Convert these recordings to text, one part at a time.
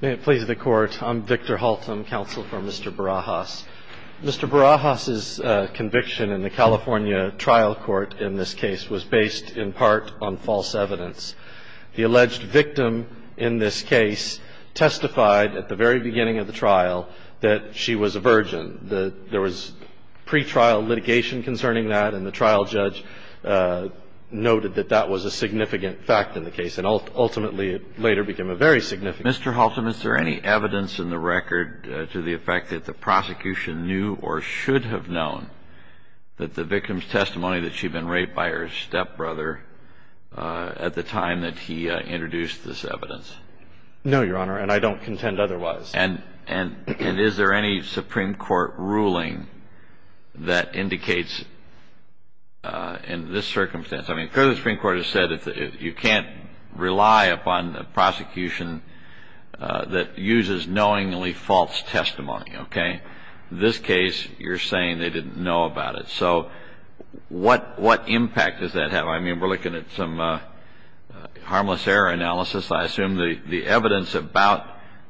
May it please the Court, I'm Victor Haltom, counsel for Mr. Barajas. Mr. Barajas' conviction in the California trial court in this case was based in part on false evidence. The alleged victim in this case testified at the very beginning of the trial that she was a virgin. There was pretrial litigation concerning that, and the trial judge noted that that was a significant fact in the case, and ultimately it later became a very significant fact. Mr. Haltom, is there any evidence in the record to the effect that the prosecution knew or should have known that the victim's testimony that she'd been raped by her stepbrother at the time that he introduced this evidence? No, Your Honor, and I don't contend otherwise. And is there any Supreme Court ruling that indicates in this circumstance? I mean, clearly the Supreme Court has said you can't rely upon a prosecution that uses knowingly false testimony, okay? In this case, you're saying they didn't know about it. So what impact does that have? I mean, we're looking at some harmless error analysis. I assume the evidence about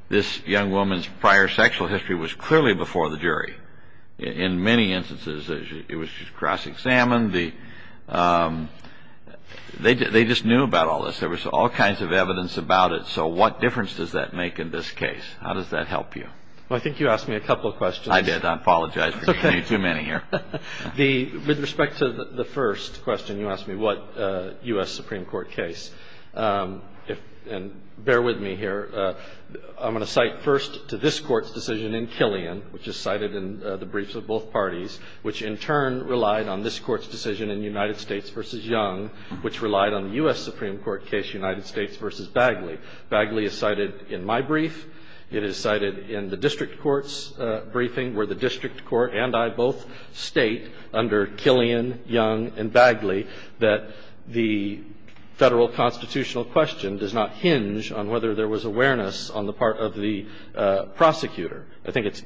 this young woman's prior sexual history was clearly before the jury. In many instances, it was just cross-examined. They just knew about all this. There was all kinds of evidence about it. So what difference does that make in this case? How does that help you? Well, I think you asked me a couple of questions. I did. I apologize for giving you too many here. Okay. With respect to the first question, you asked me what U.S. Supreme Court case. And bear with me here. I'm going to cite first to this Court's decision in Killian, which is cited in the briefs of both parties, which in turn relied on this Court's decision in United States v. Young, which relied on the U.S. Supreme Court case United States v. Bagley. Bagley is cited in my brief. It is cited in the district court's briefing, where the district court and I both state under Killian, Young, and Bagley that the Federal constitutional question does not hinge on whether there was awareness on the part of the prosecutor. I think it's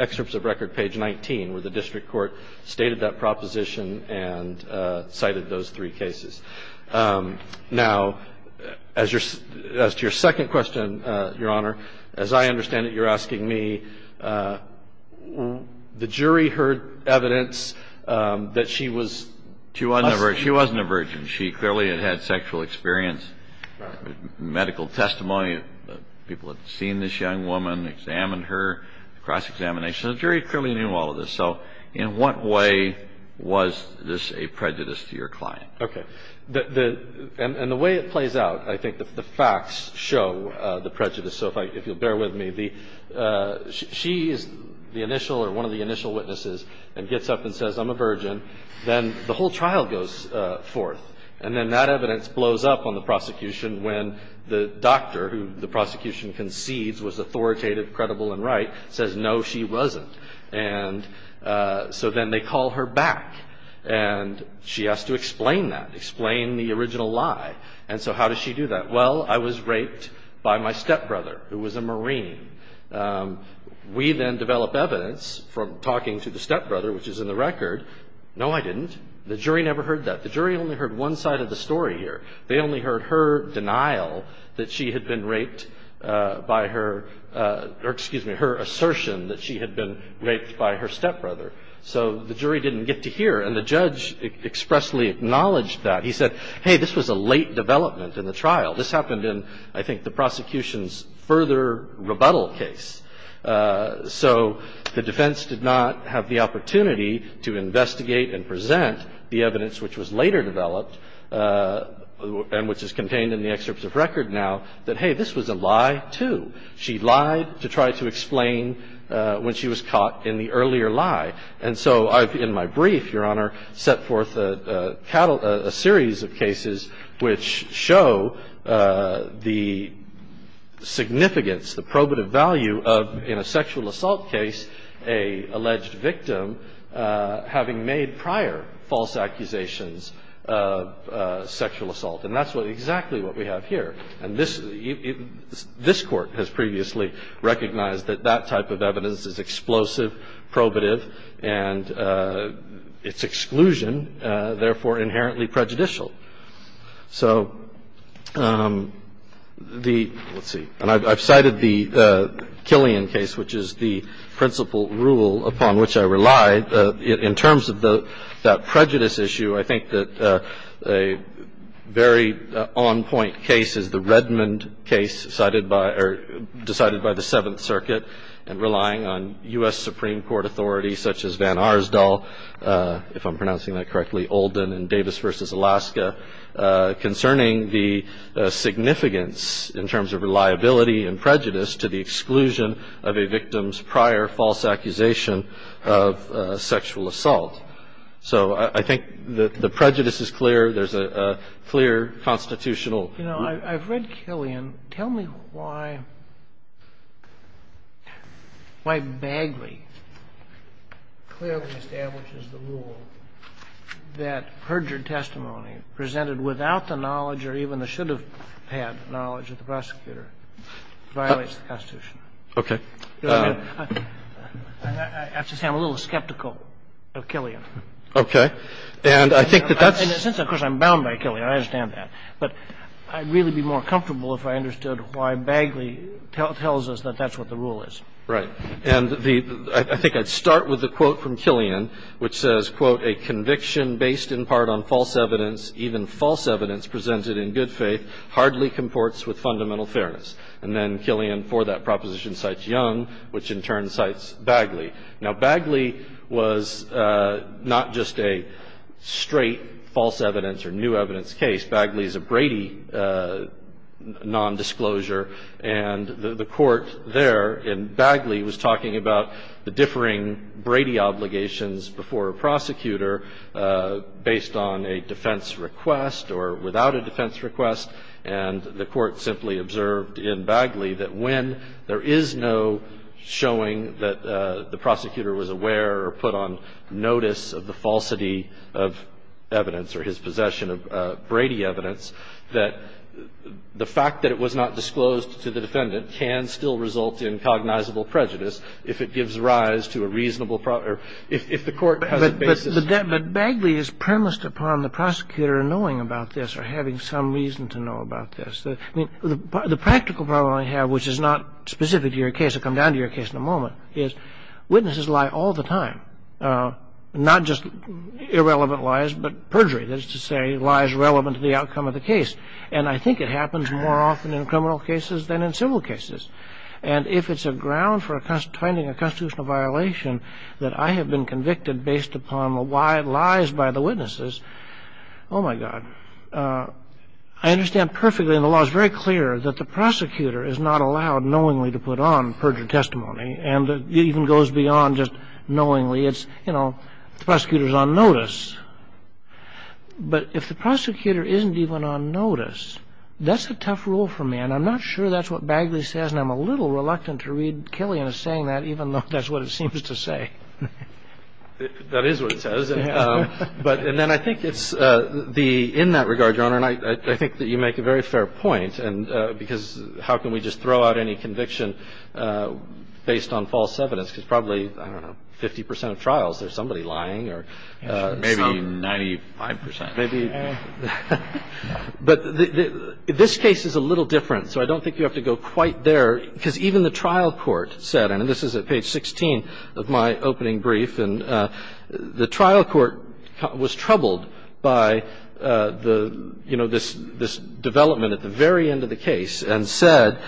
excerpts of record page 19, where the district court stated that proposition and cited those three cases. Now, as to your second question, Your Honor, as I understand it, you're asking me, the jury heard evidence that she was a virgin. She wasn't a virgin. She clearly had had sexual experience, medical testimony. People had seen this young woman, examined her, cross-examination. The jury clearly knew all of this. So in what way was this a prejudice to your client? Okay. And the way it plays out, I think the facts show the prejudice. So if you'll bear with me, she is the initial or one of the initial witnesses and gets up and says, I'm a virgin. Then the whole trial goes forth, and then that evidence blows up on the prosecution when the doctor, who the prosecution concedes was authoritative, credible, and right, says, no, she wasn't. And so then they call her back, and she has to explain that, explain the original lie. And so how does she do that? Well, I was raped by my stepbrother, who was a Marine. We then develop evidence from talking to the stepbrother, which is in the record. No, I didn't. The jury never heard that. The jury only heard one side of the story here. They only heard her denial that she had been raped by her or, excuse me, her assertion that she had been raped by her stepbrother. So the jury didn't get to hear, and the judge expressly acknowledged that. And he said, hey, this was a late development in the trial. This happened in, I think, the prosecution's further rebuttal case. So the defense did not have the opportunity to investigate and present the evidence, which was later developed and which is contained in the excerpts of record now, that, hey, this was a lie, too. She lied to try to explain when she was caught in the earlier lie. And so I've, in my brief, Your Honor, set forth a series of cases which show the significance, the probative value of, in a sexual assault case, an alleged victim having made prior false accusations of sexual assault. And that's exactly what we have here. And this Court has previously recognized that that type of evidence is explosive, probative, and its exclusion, therefore, inherently prejudicial. So the – let's see. And I've cited the Killian case, which is the principal rule upon which I rely. In terms of that prejudice issue, I think that a very on-point case is the Redmond case decided by the Seventh Circuit and relying on U.S. Supreme Court authorities such as Van Arsdal, if I'm pronouncing that correctly, Olden and Davis v. Alaska, concerning the significance in terms of reliability and prejudice to the exclusion of a victim's prior false accusation of sexual assault. So I think the prejudice is clear. There's a clear constitutional rule. You know, I've read Killian. Tell me why Bagley clearly establishes the rule that perjured testimony presented without the knowledge or even the should have had knowledge of the prosecutor violates the Constitution. Okay. I have to say I'm a little skeptical of Killian. Okay. And I think that that's – Of course, I'm bound by Killian. I understand that. But I'd really be more comfortable if I understood why Bagley tells us that that's what the rule is. And the – I think I'd start with the quote from Killian, which says, quote, a conviction based in part on false evidence, even false evidence presented in good faith, hardly comports with fundamental fairness. And then Killian, for that proposition, cites Young, which in turn cites Bagley. Now, Bagley was not just a straight false evidence or new evidence case. Bagley is a Brady nondisclosure. And the court there in Bagley was talking about the differing Brady obligations before a prosecutor based on a defense request or without a defense request. And the court simply observed in Bagley that when there is no showing that the prosecutor was aware or put on notice of the falsity of evidence or his possession of Brady evidence, that the fact that it was not disclosed to the defendant can still result in cognizable prejudice if it gives rise to a reasonable – or if the court has a basis. But Bagley is premised upon the prosecutor knowing about this or having some reason to know about this. I mean, the practical problem I have, which is not specific to your case – I'll come down to your case in a moment – is witnesses lie all the time. Not just irrelevant lies, but perjury. That is to say, lies relevant to the outcome of the case. And I think it happens more often in criminal cases than in civil cases. And if it's a ground for finding a constitutional violation that I have been convicted based upon lies by the witnesses, oh, my God. I understand perfectly, and the law is very clear, that the prosecutor is not allowed knowingly to put on perjury testimony. And it even goes beyond just knowingly. It's, you know, the prosecutor is on notice. But if the prosecutor isn't even on notice, that's a tough rule for me. And I'm not sure that's what Bagley says, and I'm a little reluctant to read Killian as saying that, even though that's what it seems to say. That is what it says. And then I think it's the – in that regard, Your Honor, and I think that you make a very fair point, because how can we just throw out any conviction based on false evidence? Because probably, I don't know, 50 percent of trials, there's somebody lying. Maybe 95 percent. But this case is a little different, so I don't think you have to go quite there, because even the trial court said, and this is at page 16 of my opening brief, and the trial court was troubled by the, you know, this development at the very end of the case and said,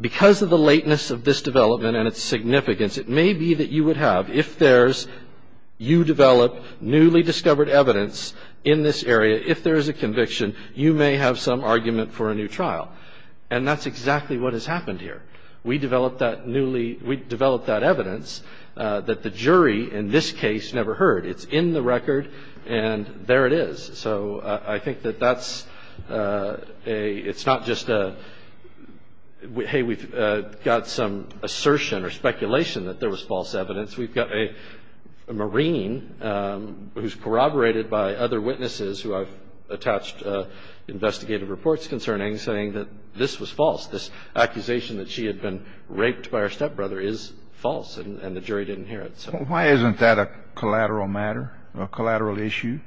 because of the lateness of this development and its significance, it may be that you would have, if there's, you develop newly discovered evidence in this area, if there is a conviction, you may have some argument for a new trial. And that's exactly what has happened here. We developed that newly – we developed that evidence that the jury in this case never heard. It's in the record, and there it is. So I think that that's a – it's not just a, hey, we've got some assertion or speculation that there was false evidence. We've got a Marine who's corroborated by other witnesses who I've attached investigative reports concerning saying that this was false. This accusation that she had been raped by her stepbrother is false, and the jury didn't hear it. So why isn't that a collateral matter, a collateral issue?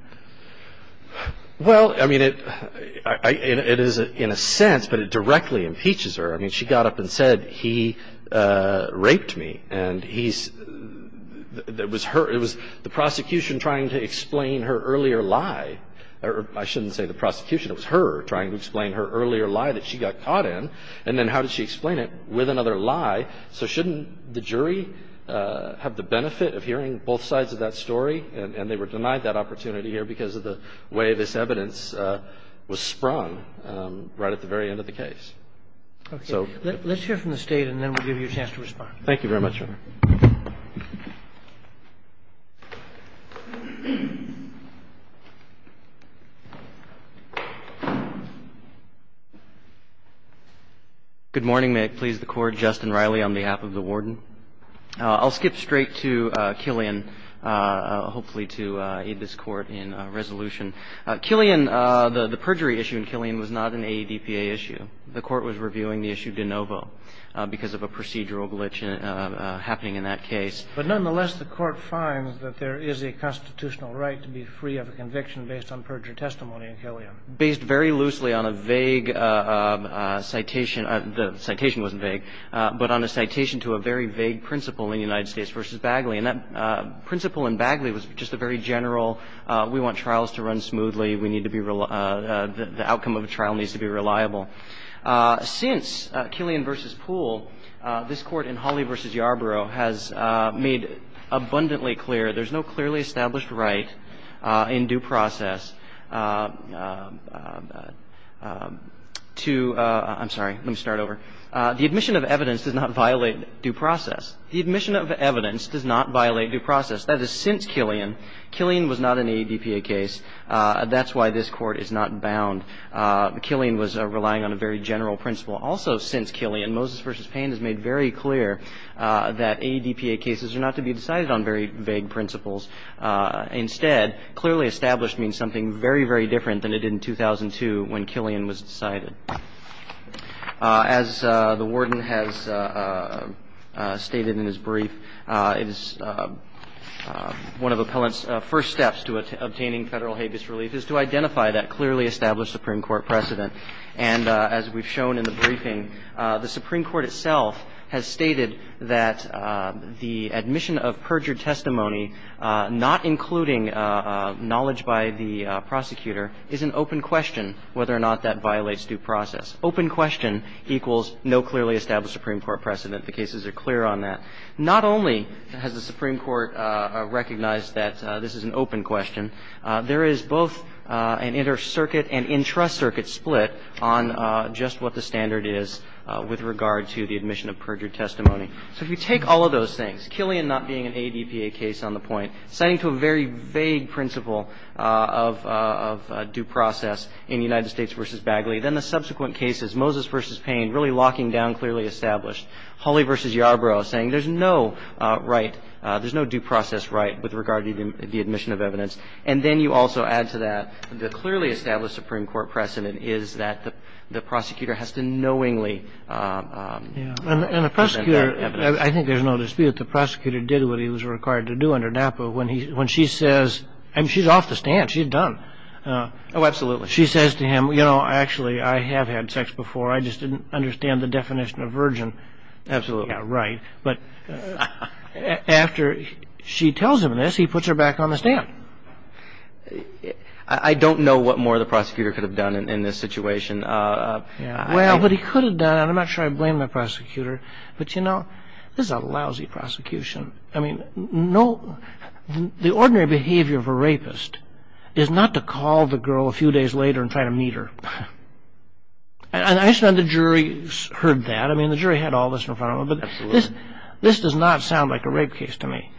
Well, I mean, it is in a sense, but it directly impeaches her. I mean, she got up and said, he raped me. And he's – it was her – it was the prosecution trying to explain her earlier lie. I shouldn't say the prosecution. It was her trying to explain her earlier lie that she got caught in. And then how did she explain it? With another lie. So shouldn't the jury have the benefit of hearing both sides of that story? And they were denied that opportunity here because of the way this evidence was sprung right at the very end of the case. Okay. Let's hear from the State and then we'll give you a chance to respond. Thank you very much, Your Honor. Good morning. May it please the Court. Justin Riley on behalf of the Warden. I'll skip straight to Killian, hopefully to aid this Court in resolution. Killian, the perjury issue in Killian was not an AEDPA issue. The Court was reviewing the issue de novo because of a procedural glitch happening in that case. But nonetheless, the Court finds that there is a constitutional right to be free of a conviction based on perjury testimony in Killian. Based very loosely on a vague citation – the citation wasn't vague – but on a citation to a very vague principle in United States v. Bagley. And that principle in Bagley was just a very general, we want trials to run smoothly, we need to be – the outcome of a trial needs to be reliable. Since Killian v. Poole, this Court in Hawley v. Yarborough has made abundantly clear there's no clearly established right in due process to – I'm sorry. Let me start over. The admission of evidence does not violate due process. The admission of evidence does not violate due process. That is since Killian. Killian was not an AEDPA case. That's why this Court is not bound. Killian was relying on a very general principle. Also since Killian, Moses v. Payne has made very clear that AEDPA cases are not to be decided on very vague principles. Instead, clearly established means something very, very different than it did in 2002 when Killian was decided. As the Warden has stated in his brief, one of appellants' first steps to obtaining Federal habeas relief is to identify that clearly established Supreme Court precedent. And as we've shown in the briefing, the Supreme Court itself has stated that the admission of perjured testimony, not including knowledge by the prosecutor, is an open question whether or not that violates due process. Open question equals no clearly established Supreme Court precedent. The cases are clear on that. Not only has the Supreme Court recognized that this is an open question, there is both an inter-circuit and intra-circuit split on just what the standard is with regard to the admission of perjured testimony. So if you take all of those things, Killian not being an AEDPA case on the point, citing to a very vague principle of due process in the United States v. Bagley, then the subsequent cases, Moses v. Payne really locking down clearly established, Hawley v. Yarbrough saying there's no right, there's no due process right with regard to the admission of evidence. And then you also add to that the clearly established Supreme Court precedent is that the prosecutor has to knowingly present that evidence. And the prosecutor, I think there's no dispute that the prosecutor did what he was required to do under NAPA when she says, I mean, she's off the stand. She's done. Oh, absolutely. She says to him, you know, actually I have had sex before. I just didn't understand the definition of virgin. Absolutely. Yeah, right. But after she tells him this, he puts her back on the stand. I don't know what more the prosecutor could have done in this situation. Well, what he could have done, and I'm not sure I blame the prosecutor, but, you know, this is a lousy prosecution. I mean, the ordinary behavior of a rapist is not to call the girl a few days later and try to meet her. And I understand the jury heard that. I mean, the jury had all this in front of them. But this does not sound like a rape case to me.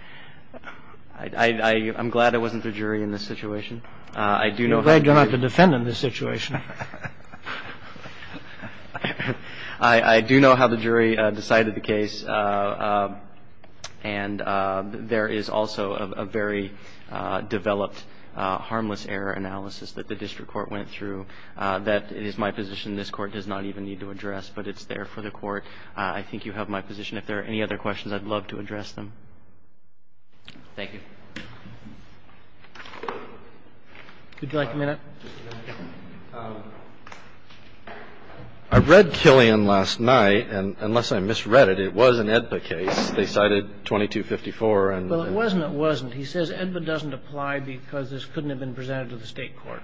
I'm glad I wasn't the jury in this situation. I'm glad you're not the defendant in this situation. I do know how the jury decided the case. And there is also a very developed harmless error analysis that the district court went through that is my position. This Court does not even need to address, but it's there for the Court. I think you have my position. If there are any other questions, I'd love to address them. Thank you. Would you like a minute? I read Killian last night, and unless I misread it, it was an AEDPA case. They cited 2254 and the other. Well, it wasn't, it wasn't. He says AEDPA doesn't apply because this couldn't have been presented to the State court.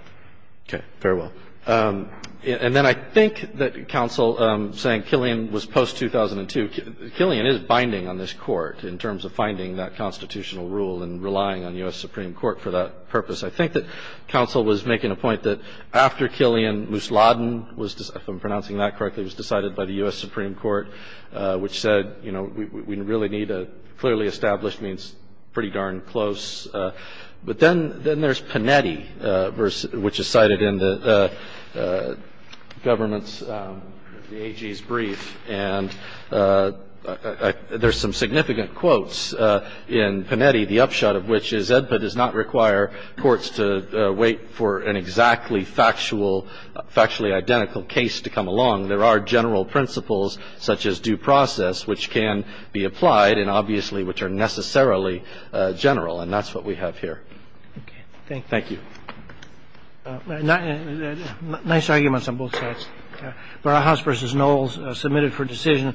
Okay. Very well. And then I think that counsel, saying Killian was post-2002, Killian is binding on this Court in terms of finding that constitutional rule and relying on U.S. Supreme Court for that purpose. I think that counsel was making a point that after Killian, Mousladen was, if I'm pronouncing that correctly, was decided by the U.S. Supreme Court, which said, you know, we really need a clearly established means pretty darn close. But then there's Panetti, which is cited in the government's, the AG's brief. And there's some significant quotes in Panetti, the upshot of which is AEDPA does not require courts to wait for an exactly factual, factually identical case to come along. There are general principles, such as due process, which can be applied, and obviously which are necessarily general. And that's what we have here. Okay. Thank you. Thank you. Nice arguments on both sides. Barras versus Knowles submitted for decision.